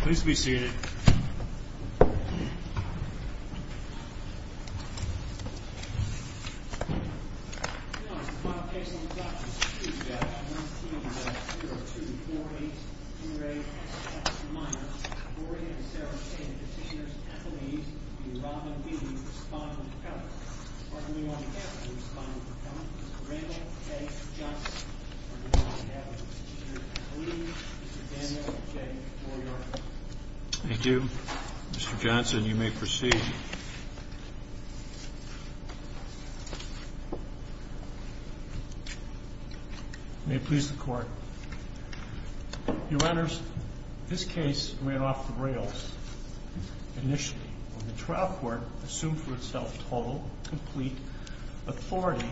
Please be seated. Thank you. Mr. Johnson, you may proceed. May it please the Court. Your Honors, this case ran off the rails initially. When the trial court assumed for itself total, complete authority,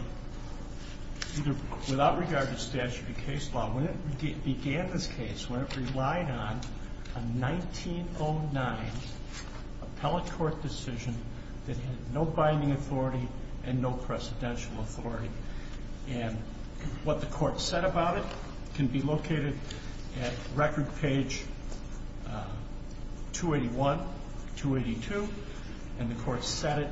without regard to statute of case law, when it began this case, when it relied on a 1909 appellate court decision that had no binding authority and no precedential authority, and what the Court said about it can be located at record page 281, 282, and the Court said it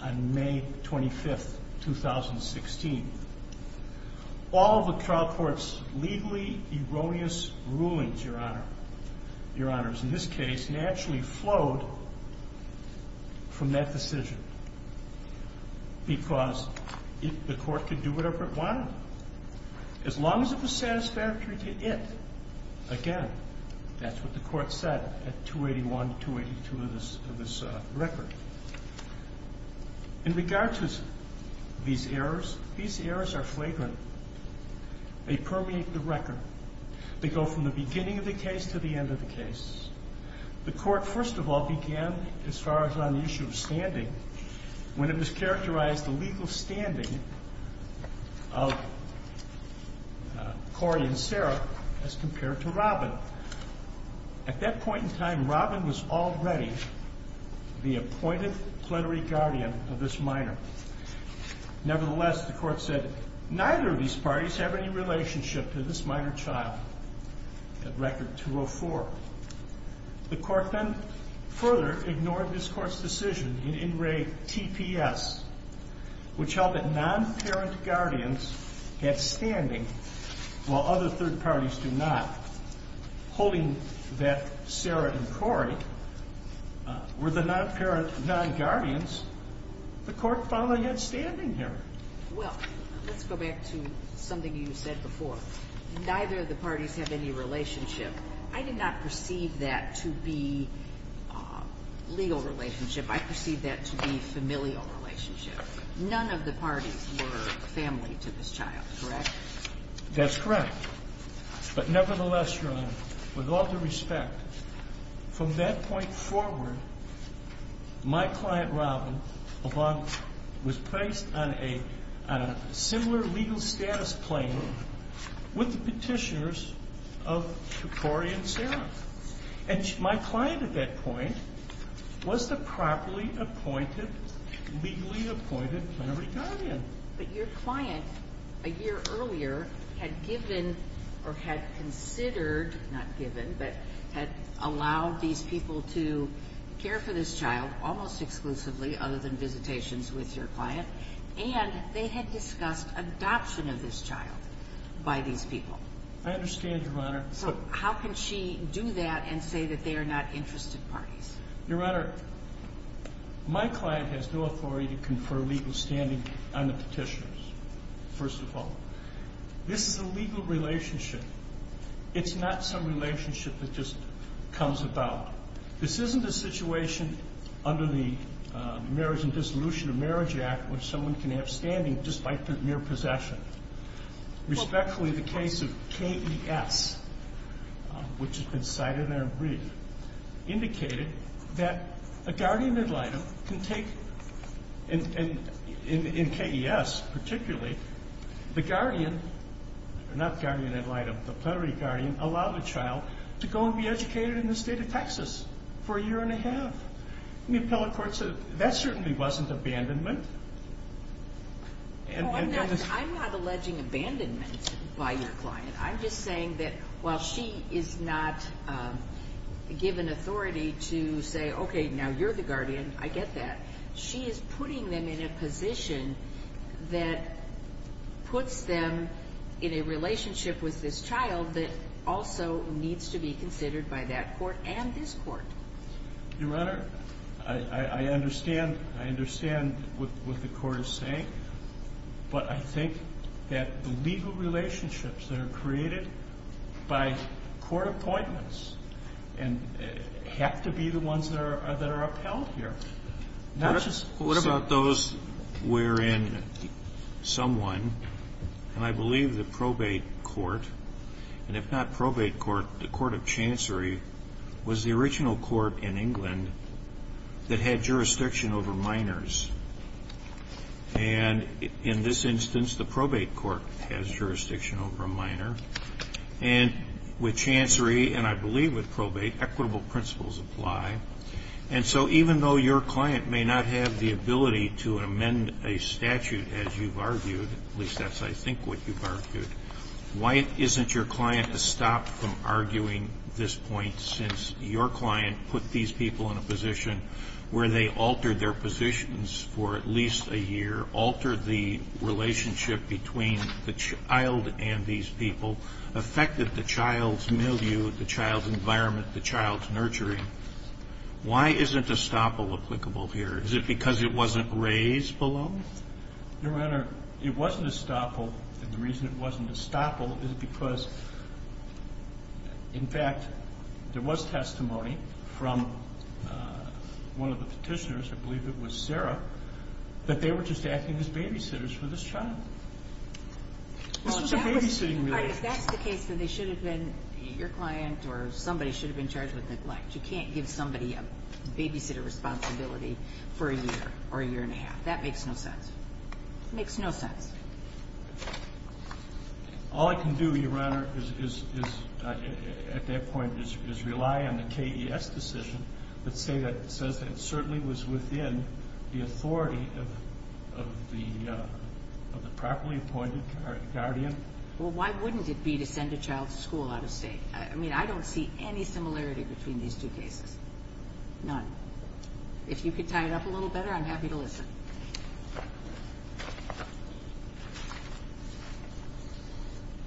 on May 25, 2016. All of the trial court's legally erroneous rulings, Your Honors, in this case naturally flowed from that decision because the Court could do whatever it wanted. As long as it was satisfactory to it, again, that's what the Court said at 281, 282 of this record. In regard to these errors, these errors are flagrant. They permeate the record. They go from the beginning of the case to the end of the case. The Court, first of all, began as far as on the issue of standing when it was characterized the legal standing of Corey and Sarah as compared to Robin. At that point in time, Robin was already the appointed plenary guardian of this minor. Nevertheless, the Court said, neither of these parties have any relationship to this minor child at record 204. The Court then further ignored this Court's decision in in re TPS which held that non-parent guardians had standing while other third parties do not. Holding that Sarah and Corey were the non-parent non-guardians, the Court found they had standing here. Well, let's go back to something you said before. Neither of the parties have any relationship. I did not perceive that to be legal relationship. I perceived that to be familial relationship. None of the parties were family to this child, correct? That's correct. But nevertheless, Your Honor, with all due respect, from that point forward, my client, Robin, was placed on a similar legal status plenary with the petitioners of Corey and Sarah. And my client at that point was the properly appointed, legally appointed plenary guardian. But your client, a year earlier, had given or had considered, not given, but had allowed these people to care for this child almost exclusively other than visitations with your client, and they had discussed adoption of this child by these people. I understand, Your Honor. How can she do that and say that they are not interested parties? Your Honor, my client has no authority to confer legal standing on the petitioners, first of all. This is a legal relationship. It's not some relationship that just comes about. This isn't a situation under the Marriage and Dissolution of Marriage Act where someone can have standing just by mere possession. Respectfully, the case of KES, which has been cited in our brief, indicated that a guardian ad litem can take, in KES particularly, the guardian, not guardian ad litem, the plenary guardian, allowed the child to go and be educated in the state of Texas for a year and a half. The appellate court said that certainly wasn't abandonment. I'm not alleging abandonment by your client. I'm just saying that while she is not given authority to say, okay, now you're the guardian, I get that, she is putting them in a position that puts them in a relationship with this child that also needs to be considered by that court and this court. Your Honor, I understand what the court is saying, but I think that the legal relationships that are created by court appointments have to be the ones that are upheld here. What about those wherein someone, and I believe the probate court, and if not probate court, the court of chancery, was the original court in England that had jurisdiction over minors and in this instance the probate court has jurisdiction over a minor. And with chancery, and I believe with probate, equitable principles apply. And so even though your client may not have the ability to amend a statute, as you've argued, at least that's I think what you've argued, why isn't your client stopped from arguing this point since your client put these people in a position where they altered their positions for at least a year, altered the relationship between the child and these people, affected the child's milieu, the child's environment, the child's nurturing? Why isn't estoppel applicable here? Is it because it wasn't raised below? Your Honor, it wasn't estoppel, and the reason it wasn't estoppel is because, in fact, there was testimony from one of the petitioners, I believe it was Sarah, that they were just acting as babysitters for this child. This was a babysitting relationship. If that's the case, then they should have been, your client or somebody should have been charged with neglect. You can't give somebody a babysitter responsibility for a year or a year and a half. That makes no sense. It makes no sense. All I can do, your Honor, at that point is rely on the KES decision that says that it certainly was within the authority of the properly appointed guardian. Well, why wouldn't it be to send a child to school out of state? I mean, I don't see any similarity between these two cases, none. If you could tie it up a little better, I'm happy to listen.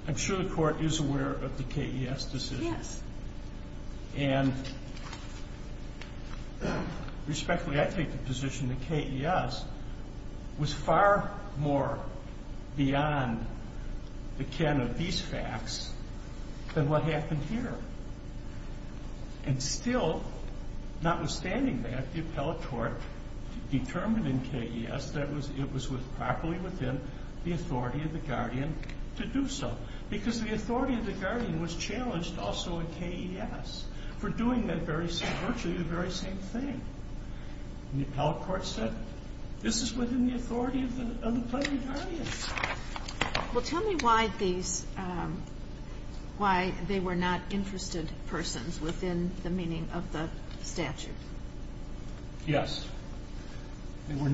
I'm sure the Court is aware of the KES decision. Yes. And respectfully, I take the position that KES was far more beyond the ken of these facts than what happened here. And still, notwithstanding that, the appellate court determined in KES that it was properly within the authority of the guardian to do so. Because the authority of the guardian was challenged also in KES for doing virtually the very same thing. The appellate court said, this is within the authority of the plaintiff's guardian. Well, tell me why they were not interested persons within the meaning of the statute. Yes. They were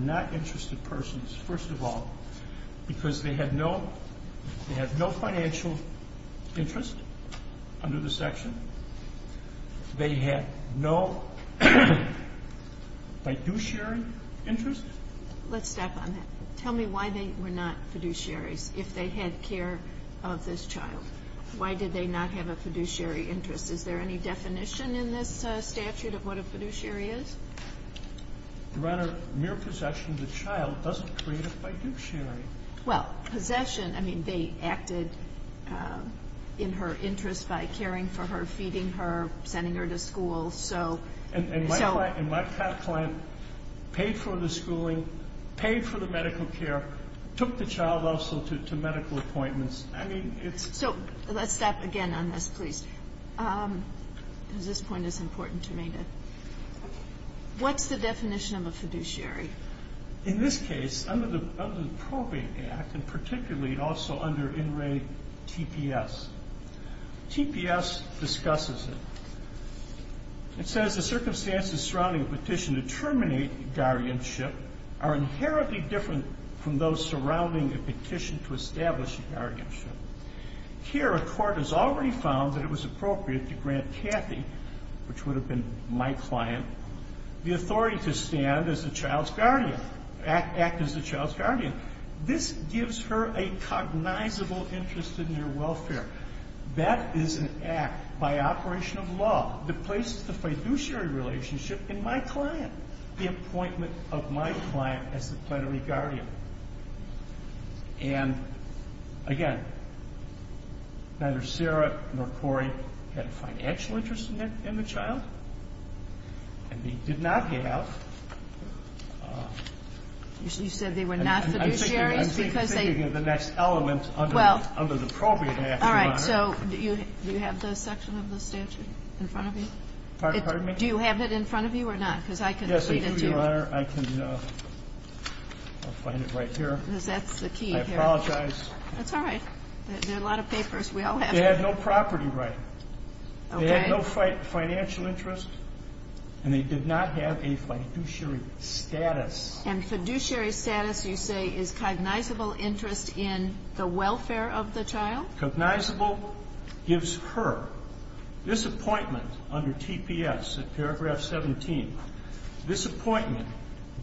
not interested persons, first of all, because they had no financial interest under the section. They had no fiduciary interest. Let's step on that. Tell me why they were not fiduciaries if they had care of this child. Why did they not have a fiduciary interest? Is there any definition in this statute of what a fiduciary is? Your Honor, mere possession of the child doesn't create a fiduciary. Well, possession, I mean, they acted in her interest by caring for her, feeding her, sending her to school. And my client paid for the schooling, paid for the medical care, took the child also to medical appointments. So let's step again on this, please, because this point is important to me. What's the definition of a fiduciary? In this case, under the Probate Act and particularly also under In Re TPS, TPS discusses it. It says the circumstances surrounding a petition to terminate guardianship are inherently different from those surrounding a petition to establish guardianship. Here, a court has already found that it was appropriate to grant Kathy, which would have been my client, the authority to stand as the child's guardian, act as the child's guardian. This gives her a cognizable interest in their welfare. That is an act by operation of law that places the fiduciary relationship in my client, the appointment of my client as the plenary guardian. And, again, neither Sarah nor Corey had a financial interest in the child, and they did not have. You said they were not fiduciaries because they – I'm thinking of the next element under the Probate Act, Your Honor. All right. So do you have the section of the statute in front of you? Pardon me? Do you have it in front of you or not? Because I can read it to you. Yes, I do, Your Honor. I can – I'll find it right here. Because that's the key here. I apologize. That's all right. There are a lot of papers we all have. They had no property right. Okay. They had no financial interest, and they did not have a fiduciary status. And fiduciary status, you say, is cognizable interest in the welfare of the child? Cognizable gives her. This appointment under TPS at paragraph 17, this appointment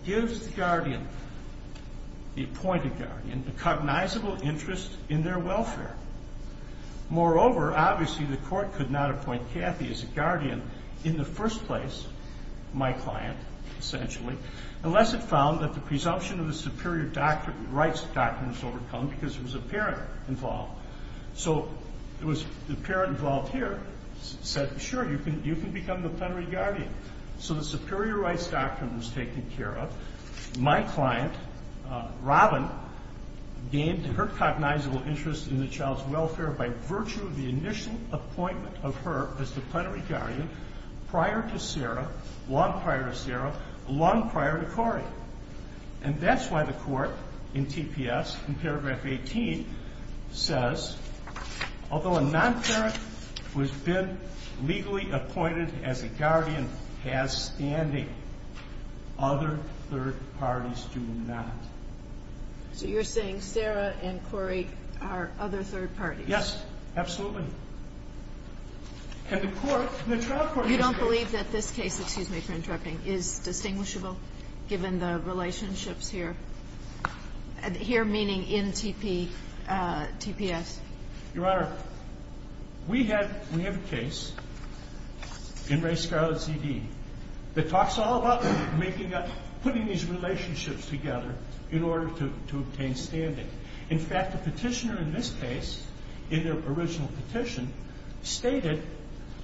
gives the guardian, the appointed guardian, a cognizable interest in their welfare. Moreover, obviously the court could not appoint Kathy as a guardian in the first place, my client essentially, unless it found that the presumption of the superior rights doctrine was overcome because there was a parent involved. So it was the parent involved here said, sure, you can become the plenary guardian. So the superior rights doctrine was taken care of. My client, Robin, gained her cognizable interest in the child's welfare by virtue of the initial appointment of her as the plenary guardian prior to Sarah, long prior to Sarah, long prior to Corey. And that's why the court in TPS, in paragraph 18, says, although a nonparent who has been legally appointed as a guardian has standing, other third parties do not. So you're saying Sarah and Corey are other third parties? Yes, absolutely. And the court, the trial court has said that. You don't believe that this case, excuse me for interrupting, is distinguishable given the relationships here, here meaning in TP, TPS? Your Honor, we had, we have a case in Ray Scarlett's ED that talks all about making a, putting these relationships together in order to obtain standing. In fact, the petitioner in this case, in their original petition, stated,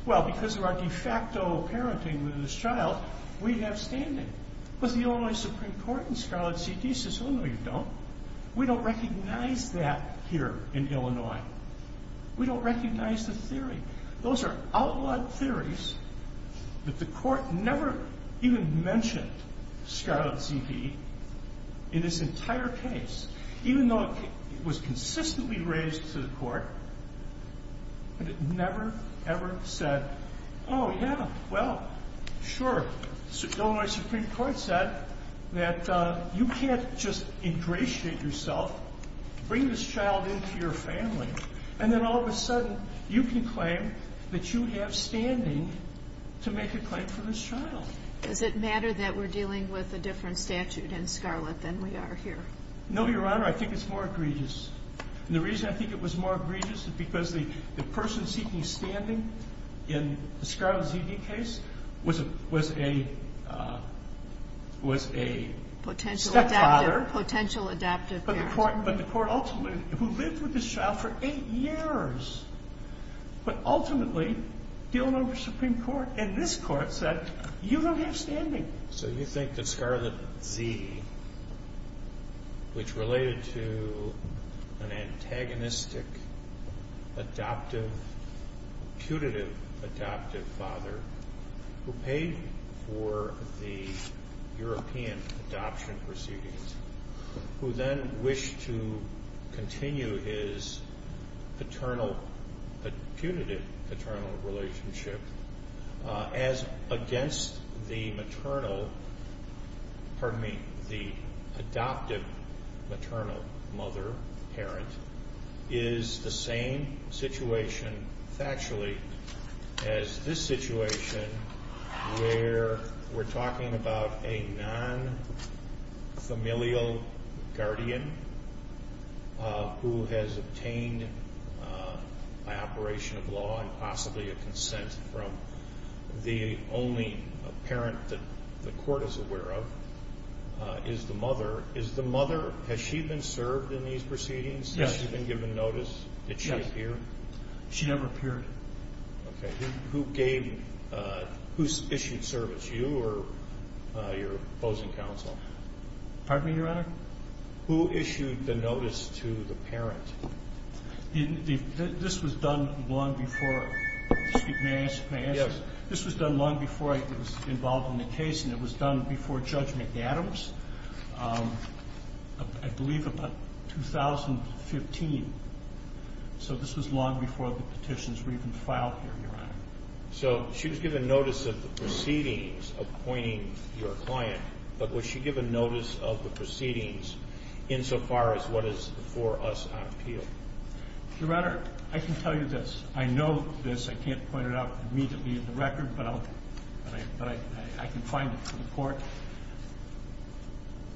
well, because of our de facto parenting with this child, we have standing. But the only Supreme Court in Scarlett's ED says, oh, no, you don't. We don't recognize that here in Illinois. We don't recognize the theory. Those are outlawed theories that the court never even mentioned Scarlett's ED in this entire case, even though it was consistently raised to the court. But it never, ever said, oh, yeah, well, sure. Illinois Supreme Court said that you can't just ingratiate yourself, bring this child into your family, and then all of a sudden you can claim that you have standing to make a claim for this child. Does it matter that we're dealing with a different statute in Scarlett than we are here? No, Your Honor. I think it's more egregious. And the reason I think it was more egregious is because the person seeking standing in the Scarlett's ED case was a stepfather. Potential adaptive parent. But the court ultimately, who lived with this child for eight years, but ultimately dealt over Supreme Court. And this Court said, you don't have standing. So you think that Scarlett's ED, which related to an antagonistic, adoptive, putative adoptive father, who paid for the European adoption proceedings, who then wished to continue his paternal, putative paternal relationship, as against the maternal, pardon me, the adoptive maternal mother, parent, is the same situation factually as this situation where we're talking about a non-familial guardian who has obtained an operation of law and possibly a consent from the only parent that the court is aware of is the mother. Is the mother, has she been served in these proceedings? Yes. Has she been given notice? Yes. Did she appear? She never appeared. Okay. Who gave, who issued service, you or your opposing counsel? Pardon me, Your Honor? Who issued the notice to the parent? This was done long before, excuse me, may I ask this? Yes. This was done long before I was involved in the case, and it was done before Judge McAdams, I believe about 2015. So this was long before the petitions were even filed here, Your Honor. So she was given notice of the proceedings appointing your client, but was she given notice of the proceedings insofar as what is before us on appeal? Your Honor, I can tell you this. I know this. I can't point it out immediately in the record, but I can find it for the court.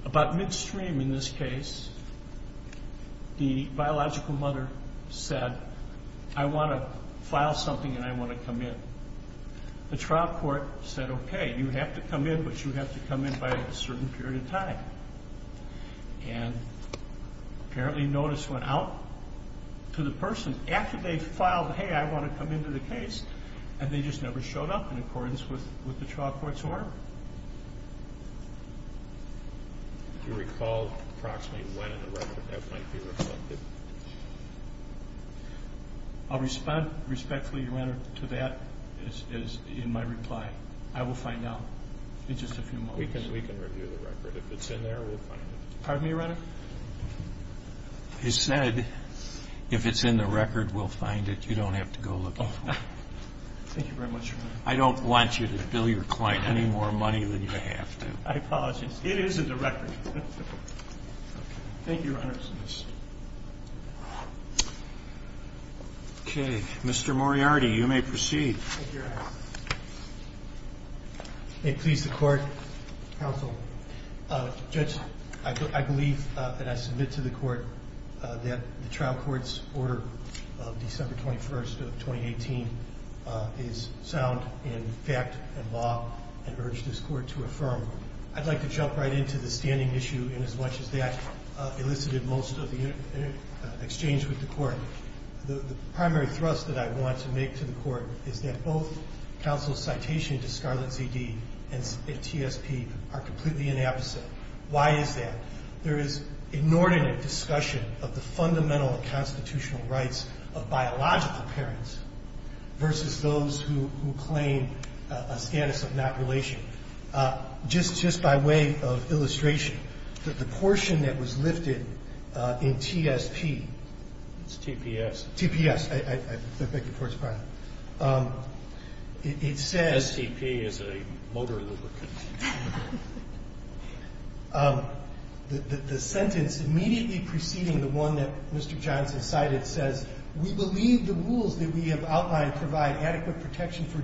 About midstream in this case, the biological mother said, I want to file something and I want to come in. The trial court said, okay, you have to come in, but you have to come in by a certain period of time. And apparently notice went out to the person after they filed, hey, I want to come into the case, and they just never showed up in accordance with the trial court's order. Do you recall approximately when in the record that might be reflected? I'll respond respectfully, Your Honor, to that in my reply. I will find out in just a few moments. We can review the record. If it's in there, we'll find it. Pardon me, Your Honor? I said if it's in the record, we'll find it. You don't have to go looking for it. Thank you very much, Your Honor. I don't want you to bill your client any more money than you have to. I apologize. It is in the record. Thank you, Your Honor. Okay. Mr. Moriarty, you may proceed. Thank you, Your Honor. May it please the court, counsel. Judge, I believe that I submit to the court that the trial court's order of December 21st of 2018 is sound in fact and law and urge this court to affirm. I'd like to jump right into the standing issue in as much as that elicited most of the exchange with the court. The primary thrust that I want to make to the court is that both counsel's citation to Scarlett Z.D. and TSP are completely inapposite. Why is that? There is inordinate discussion of the fundamental constitutional rights of biological parents versus those who claim a status of not relation. Just by way of illustration, the portion that was lifted in TSP. It's TPS. TPS. I beg your court's pardon. It says. STP is a motor lubricant. The sentence immediately preceding the one that Mr. Johnson cited says, we believe the rules that we have outlined provide adequate protection for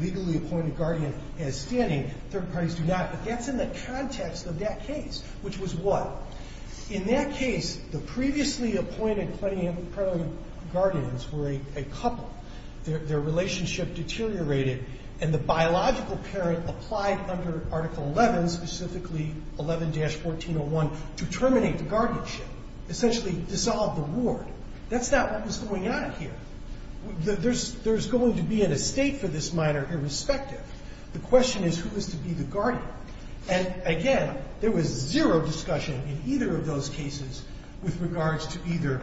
legally appointed guardian as standing. Third parties do not. But that's in the context of that case. Which was what? In that case, the previously appointed guardians were a couple. Their relationship deteriorated and the biological parent applied under Article 11, specifically 11-1401, to terminate the guardianship. Essentially dissolve the ward. That's not what was going on here. There's going to be an estate for this minor irrespective. The question is who is to be the guardian. And, again, there was zero discussion in either of those cases with regards to either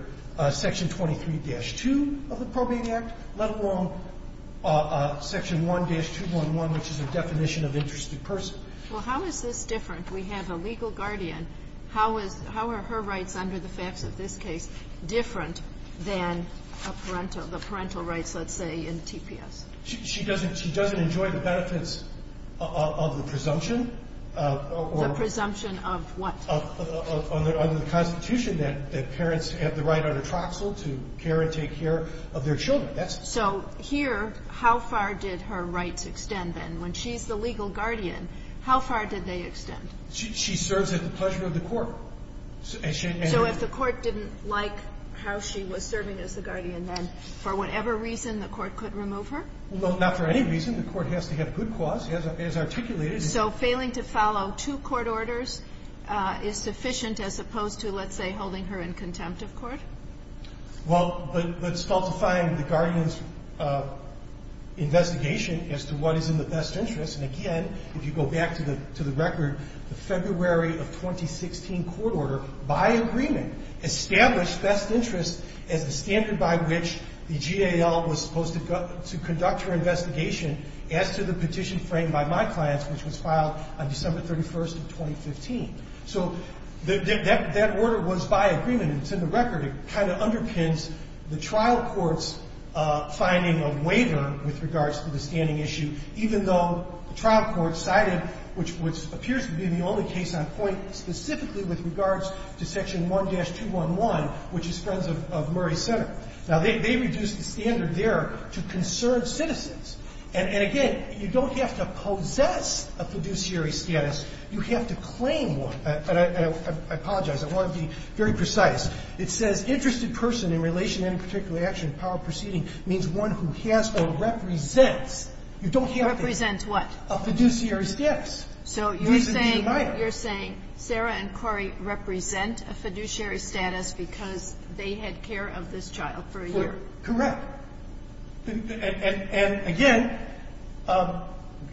Section 23-2 of the Probate Act, let alone Section 1-211, which is a definition of interested person. Well, how is this different? We have a legal guardian. How are her rights under the facts of this case different than the parental rights, let's say, in TPS? She doesn't enjoy the benefits of the presumption of the Constitution that parents have the right under Troxel to care and take care of their children. So here, how far did her rights extend then? When she's the legal guardian, how far did they extend? She serves at the pleasure of the court. So if the court didn't like how she was serving as the guardian then, for whatever reason, the court could remove her? Well, not for any reason. The court has to have good cause as articulated. So failing to follow two court orders is sufficient as opposed to, let's say, holding her in contempt of court? Well, but it's falsifying the guardian's investigation as to what is in the best interest. And again, if you go back to the record, the February of 2016 court order, by agreement, established best interest as the standard by which the GAL was supposed to conduct her investigation as to the petition framed by my clients, which was filed on December 31st of 2015. So that order was by agreement. It's in the record. It kind of underpins the trial court's finding of waiver with regards to the standing issue, even though the trial court cited, which appears to be the only case on point specifically with regards to section 1-211, which is Friends of Murray Center. Now, they reduced the standard there to concern citizens. And again, you don't have to possess a fiduciary status. You have to claim one. And I apologize. I want to be very precise. It says, interested person in relation to any particular action of power proceeding means one who has or represents. You don't have to have a fiduciary status. Kagan. So you're saying Sarah and Corey represent a fiduciary status because they had care of this child for a year? Correct. And again,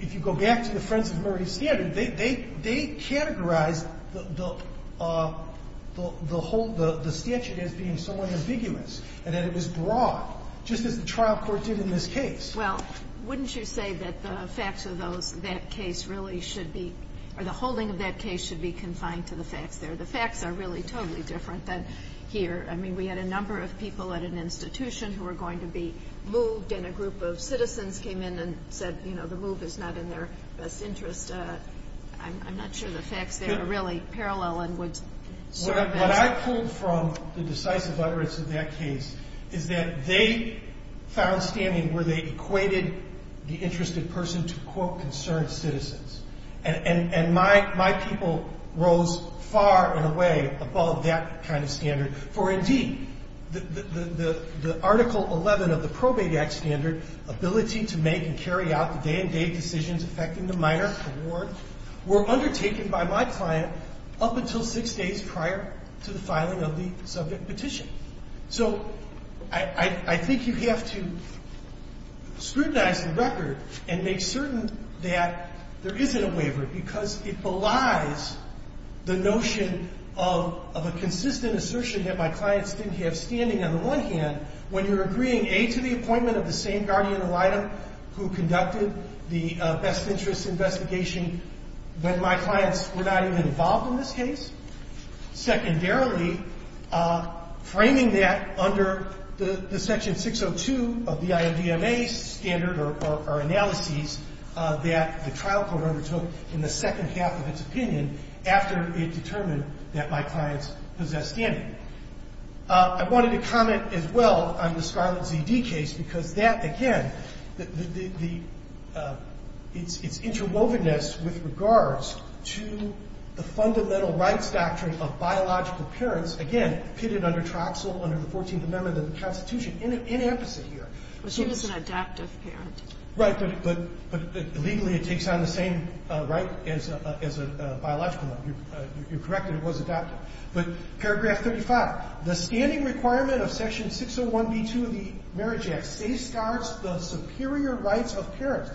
if you go back to the Friends of Murray Center, they categorized the whole of the statute as being somewhat ambiguous and that it was broad. Just as the trial court did in this case. Well, wouldn't you say that the facts of that case really should be or the holding of that case should be confined to the facts there? The facts are really totally different than here. I mean, we had a number of people at an institution who were going to be moved and a group of citizens came in and said, you know, the move is not in their best interest. I'm not sure the facts there are really parallel and would serve as. What I pulled from the decisive utterance of that case is that they found standing where they equated the interested person to, quote, concerned citizens. And my people rose far and away above that kind of standard. For, indeed, the Article 11 of the Probate Act standard, ability to make and carry out the day-to-day decisions affecting the minor award, were undertaken by my client up until six days prior to the filing of the subject petition. So I think you have to scrutinize the record and make certain that there isn't a waiver because it belies the notion of a consistent assertion that my clients didn't have standing on the one hand when you're agreeing, A, to the appointment of the same guardian or item who conducted the best interest investigation when my clients were not even involved in this case. Secondarily, framing that under the Section 602 of the IMDMA standard or analyses that the trial court undertook in the second half of its opinion after it determined that my clients possessed standing. I wanted to comment as well on the Scarlett Z.D. case because that, again, the interwovenness with regards to the fundamental rights doctrine of biological parents, again, pitted under Troxel, under the 14th Amendment of the Constitution, in emphasis here. But she was an adaptive parent. Right, but legally it takes on the same right as a biological mother. You're correct that it was adaptive. But paragraph 35, the standing requirement of Section 601b2 of the Marriage Act safeguards the superior rights of parents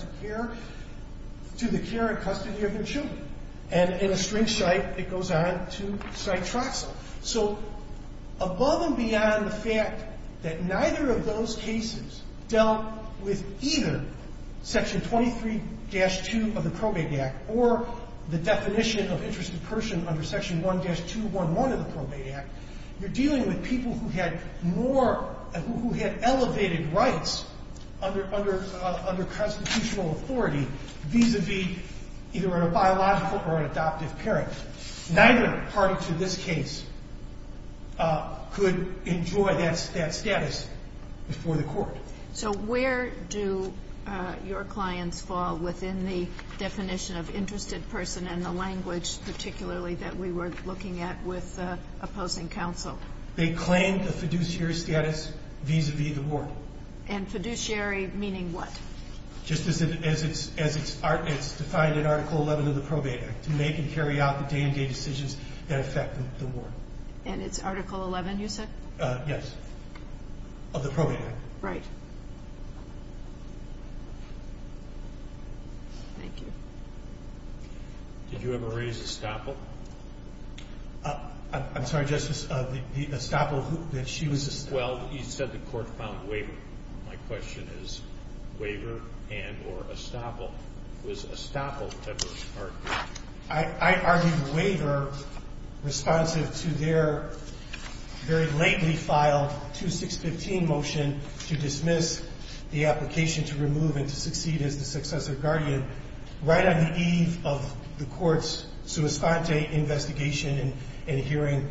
to the care and custody of their children. And in a strange sight, it goes on to cite Troxel. So above and beyond the fact that neither of those cases dealt with either Section 23-2 of the Probate Act or the definition of interested person under Section 1-211 of the Probate Act, you're dealing with people who had more, who had elevated rights under constitutional authority vis-à-vis either a biological or an adaptive parent. Neither party to this case could enjoy that status before the court. So where do your clients fall within the definition of interested person and the opposing counsel? They claim the fiduciary status vis-à-vis the ward. And fiduciary meaning what? Just as it's defined in Article 11 of the Probate Act, to make and carry out the day-in-day decisions that affect the ward. And it's Article 11, you said? Yes, of the Probate Act. Right. Thank you. Did you ever raise a staple? I'm sorry, Justice, the staple that she was asking. Well, you said the court found waver. My question is waver and or a staple. Was a staple ever argued? I argued waver responsive to their very lately filed 2615 motion to dismiss the application to remove and to succeed as the successive guardian right on the eve of the court's sua sponte investigation and hearing.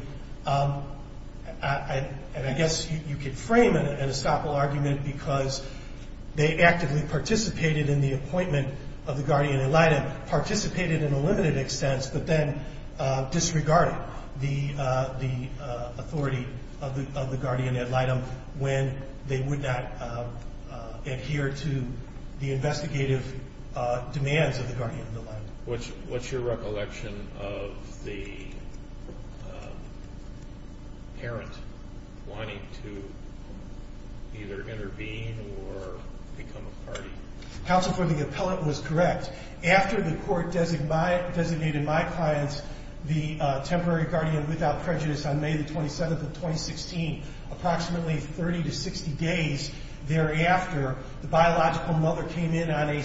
And I guess you could frame it in a staple argument because they actively participated in the appointment of the guardian ad litem, participated in a limited extent, but then disregarded the authority of the guardian ad litem when they would not adhere to the investigative demands of the guardian ad litem. What's your recollection of the parent wanting to either intervene or become a party? Counsel for the appellant was correct. After the court designated my clients the temporary guardian without prejudice on May the 27th of 2016, approximately 30 to 60 days thereafter, the biological mother came in on an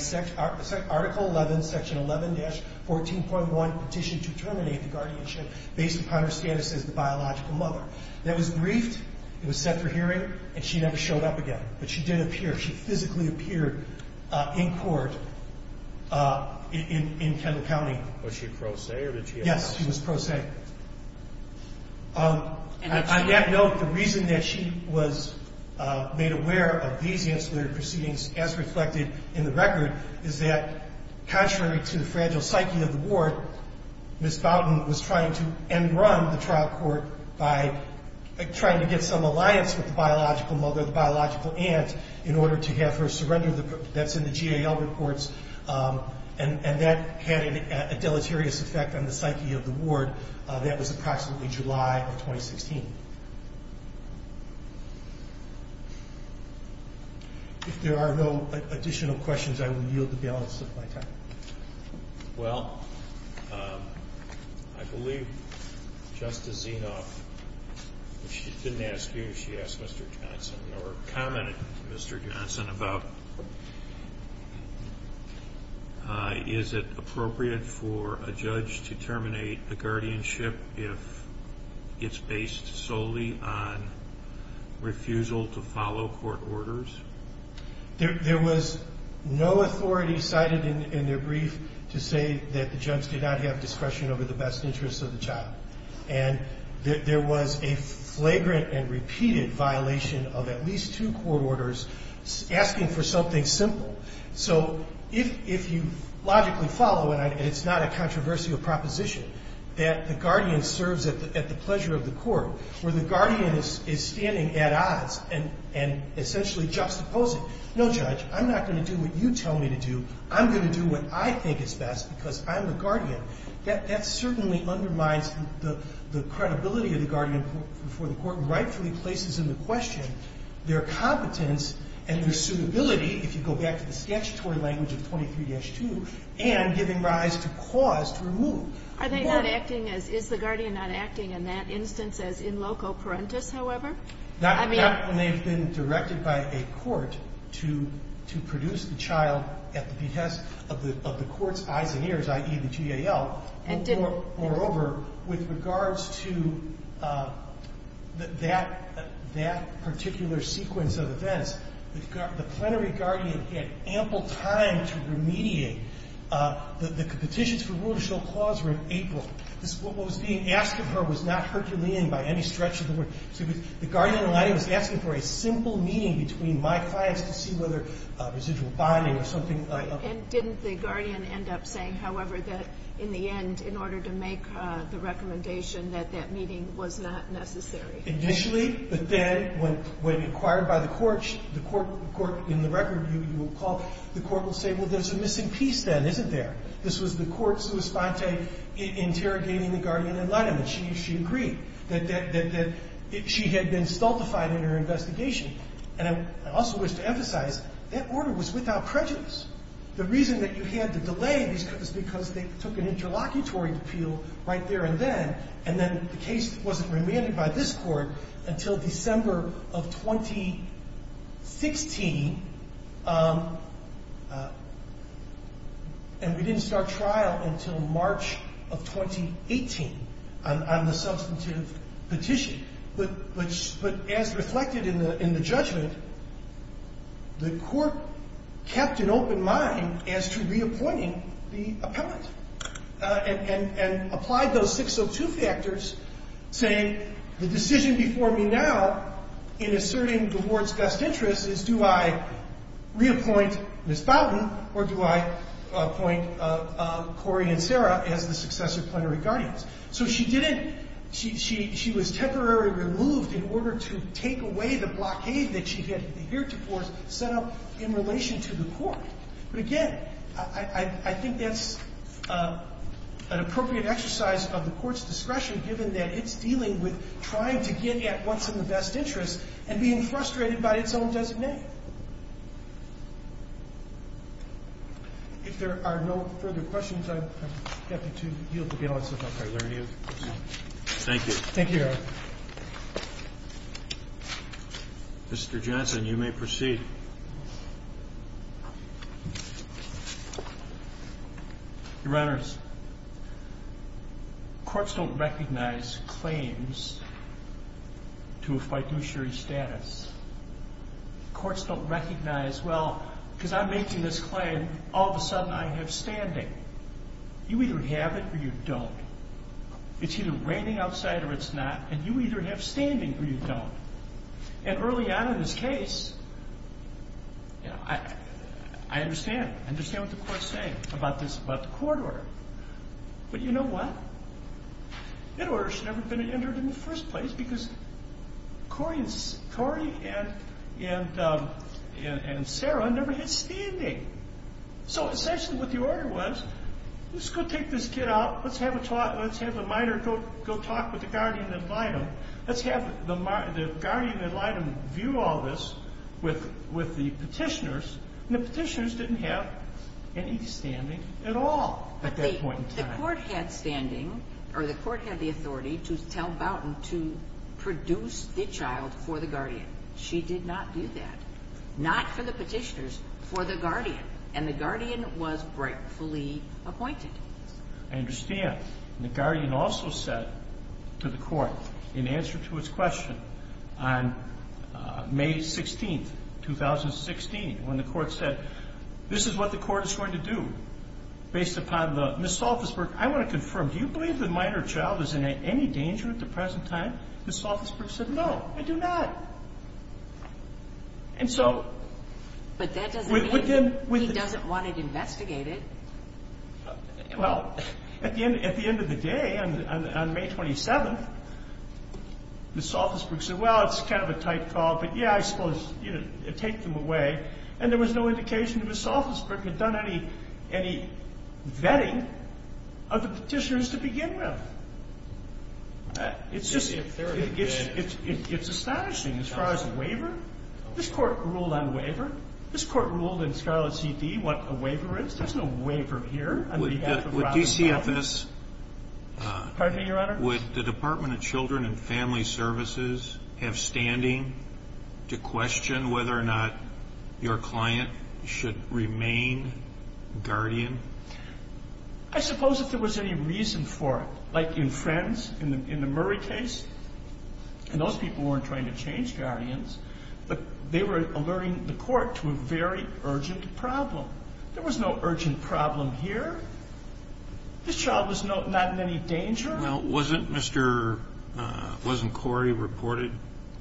article 11, section 11-14.1 petition to terminate the guardianship based upon her status as the biological mother. That was briefed. It was set for hearing. And she never showed up again. But she did appear. She physically appeared in court in Kendall County. Was she pro se or did she have... Yes, she was pro se. And on that note, the reason that she was made aware of these ancillary proceedings as reflected in the record is that contrary to the fragile psyche of the ward, Ms. Boughton was trying to end-run the trial court by trying to get some alliance with the biological mother, the biological aunt, in order to have her surrender. That's in the GAL reports. And that had a deleterious effect on the psyche of the ward. That was approximately July of 2016. If there are no additional questions, I will yield the balance of my time. Well, I believe Justice Zinoff didn't ask you. She asked Mr. Johnson or commented to Mr. Johnson about is it appropriate for a judge to terminate the guardianship if it's based solely on refusal to follow court orders? There was no authority cited in their brief to say that the judge did not have discretion over the best interests of the child. And there was a flagrant and repeated violation of at least two court orders asking for something simple. So if you logically follow, and it's not a controversy or proposition, that the guardian serves at the pleasure of the court where the guardian is standing at odds and essentially juxtaposing. No, Judge, I'm not going to do what you tell me to do. I'm going to do what I think is best because I'm the guardian. That certainly undermines the credibility of the guardian before the court and rightfully places into question their competence and their suitability, if you go back to the statutory language of 23-2, and giving rise to cause to remove. Are they not acting as is the guardian not acting in that instance as in loco parentis, however? Not when they've been directed by a court to produce the child at the behest of the court's eyes and ears, i.e., the GAL. Moreover, with regards to that particular sequence of events, the plenary guardian had ample time to remediate. The petitions for rule of show clause were in April. What was being asked of her was not her delineating by any stretch of the word. The guardian in line was asking for a simple meeting between my clients to see whether residual bonding or something like that. And didn't the guardian end up saying, however, that in the end, in order to make the recommendation that that meeting was not necessary? Initially. But then when acquired by the court, the court in the record you will call, the court will say, well, there's a missing piece then, isn't there? This was the court sua sponte interrogating the guardian in line. And she agreed that she had been stultified in her investigation. And I also wish to emphasize that order was without prejudice. The reason that you had the delay is because they took an interlocutory appeal right there and then, and then the case wasn't remanded by this court until December of 2016. And we didn't start trial until March of 2018 on the substantive petition. But as reflected in the judgment, the court kept an open mind as to reappointing the appellant and applied those 602 factors, saying the decision before me now in asserting the ward's best interest is do I reappoint Ms. Fountain or do I appoint Corey and Sarah as the successor plenary guardians? So she didn't, she was temporarily removed in order to take away the blockade that she had here to force set up in relation to the court. But again, I think that's an appropriate exercise of the court's discretion given that it's dealing with trying to get at what's in the best interest and being frustrated by its own designate. If there are no further questions, I'm happy to yield the balance if I may. Thank you. Thank you, Your Honor. Mr. Johnson, you may proceed. Thank you. Your Honors, courts don't recognize claims to a fiduciary status. Courts don't recognize, well, because I'm making this claim, all of a sudden I have standing. You either have it or you don't. It's either raining outside or it's not, and you either have standing or you don't. And early on in this case, I understand. I understand what the court's saying about the court order. But you know what? That order should never have been entered in the first place because Corey and Sarah never had standing. So essentially what the order was, let's go take this kid out. Let's have the minor go talk with the guardian and find him. Let's have the guardian invite him to view all this with the petitioners, and the petitioners didn't have any standing at all at that point in time. But the court had standing, or the court had the authority to tell Bouton to produce the child for the guardian. She did not do that. Not for the petitioners, for the guardian, and the guardian was rightfully appointed. I understand. The guardian also said to the court in answer to his question on May 16th, 2016, when the court said, this is what the court is going to do based upon the Ms. Saltzberg. I want to confirm. Do you believe the minor child is in any danger at the present time? Ms. Saltzberg said, no, I do not. And so with him. But that doesn't mean he doesn't want to investigate it. Well, at the end of the day, on May 27th, Ms. Saltzberg said, well, it's kind of a tight call, but yeah, I suppose, you know, take them away. And there was no indication that Ms. Saltzberg had done any vetting of the petitioners to begin with. It's just, it's astonishing as far as a waiver. This Court ruled unwavered. This Court ruled in Scarlett CD what a waiver is. There's no waiver here. Would DCFS, would the Department of Children and Family Services have standing to question whether or not your client should remain guardian? I suppose if there was any reason for it, like in Friends, in the Murray case, and those people weren't trying to change guardians, but they were alerting the court to a very urgent problem. There was no urgent problem here. This child was not in any danger. Well, wasn't Mr. Corey reported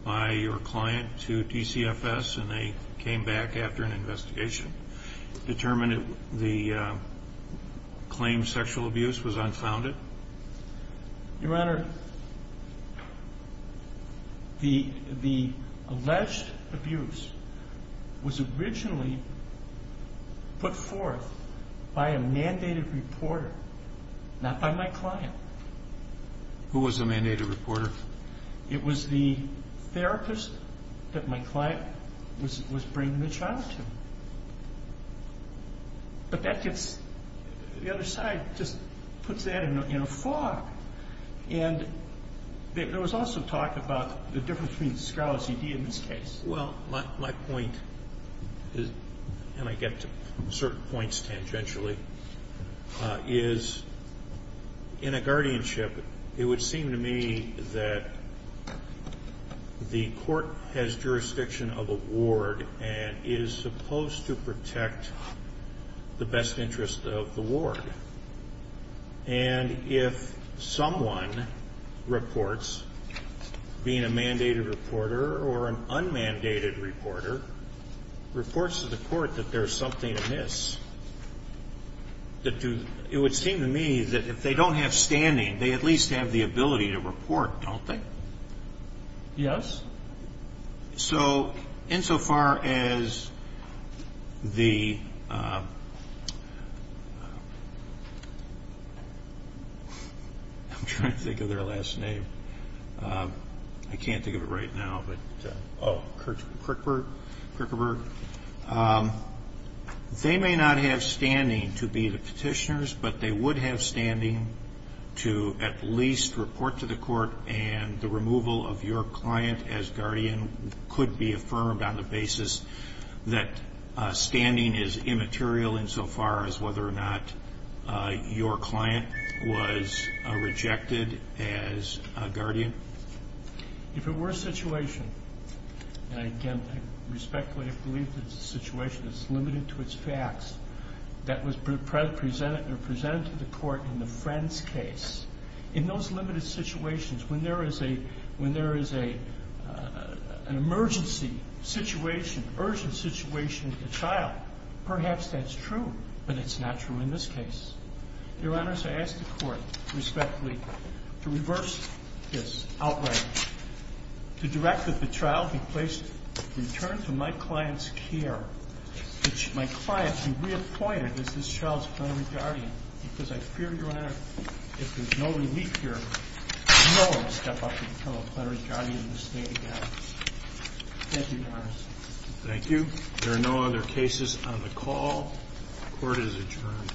by your client to DCFS and they came back after an investigation, determined the claimed sexual abuse was unfounded? Your Honor, the alleged abuse was originally put forth by a mandated reporter, not by my client. Who was the mandated reporter? It was the therapist that my client was bringing the child to. But that gets, the other side just puts that in a fog. And there was also talk about the difference between Scarlett CD and this case. Well, my point is, and I get to certain points tangentially, is in a guardianship it would seem to me that the court has jurisdiction of a ward and is supposed to protect the best interest of the ward. And if someone reports, being a mandated reporter or an unmandated reporter, reports to the court that there's something amiss, it would seem to me that if they don't have standing, they at least have the ability to report, don't they? Yes. So insofar as the, I'm trying to think of their last name. I can't think of it right now. Oh, Krickerberg. They may not have standing to be the petitioners, but they would have standing to at least report to the court and the removal of your client as guardian could be affirmed on the basis that standing is immaterial insofar as whether or not your client was rejected as a guardian. If it were a situation, and again, I respectfully believe that it's a situation that's limited to its facts, that was presented to the court in the Friends case, in those limited situations when there is an emergency situation, urgent situation with the child, perhaps that's true, but it's not true in this case. Your Honors, I ask the court respectfully to reverse this outrage, to direct that the child be placed, returned to my client's care, that my client be reappointed as this child's primary guardian, because I fear, Your Honor, if there's no relief here, no one will step up and become a primary guardian in this state again. Thank you, Your Honors. Thank you. There are no other cases on the call. Court is adjourned.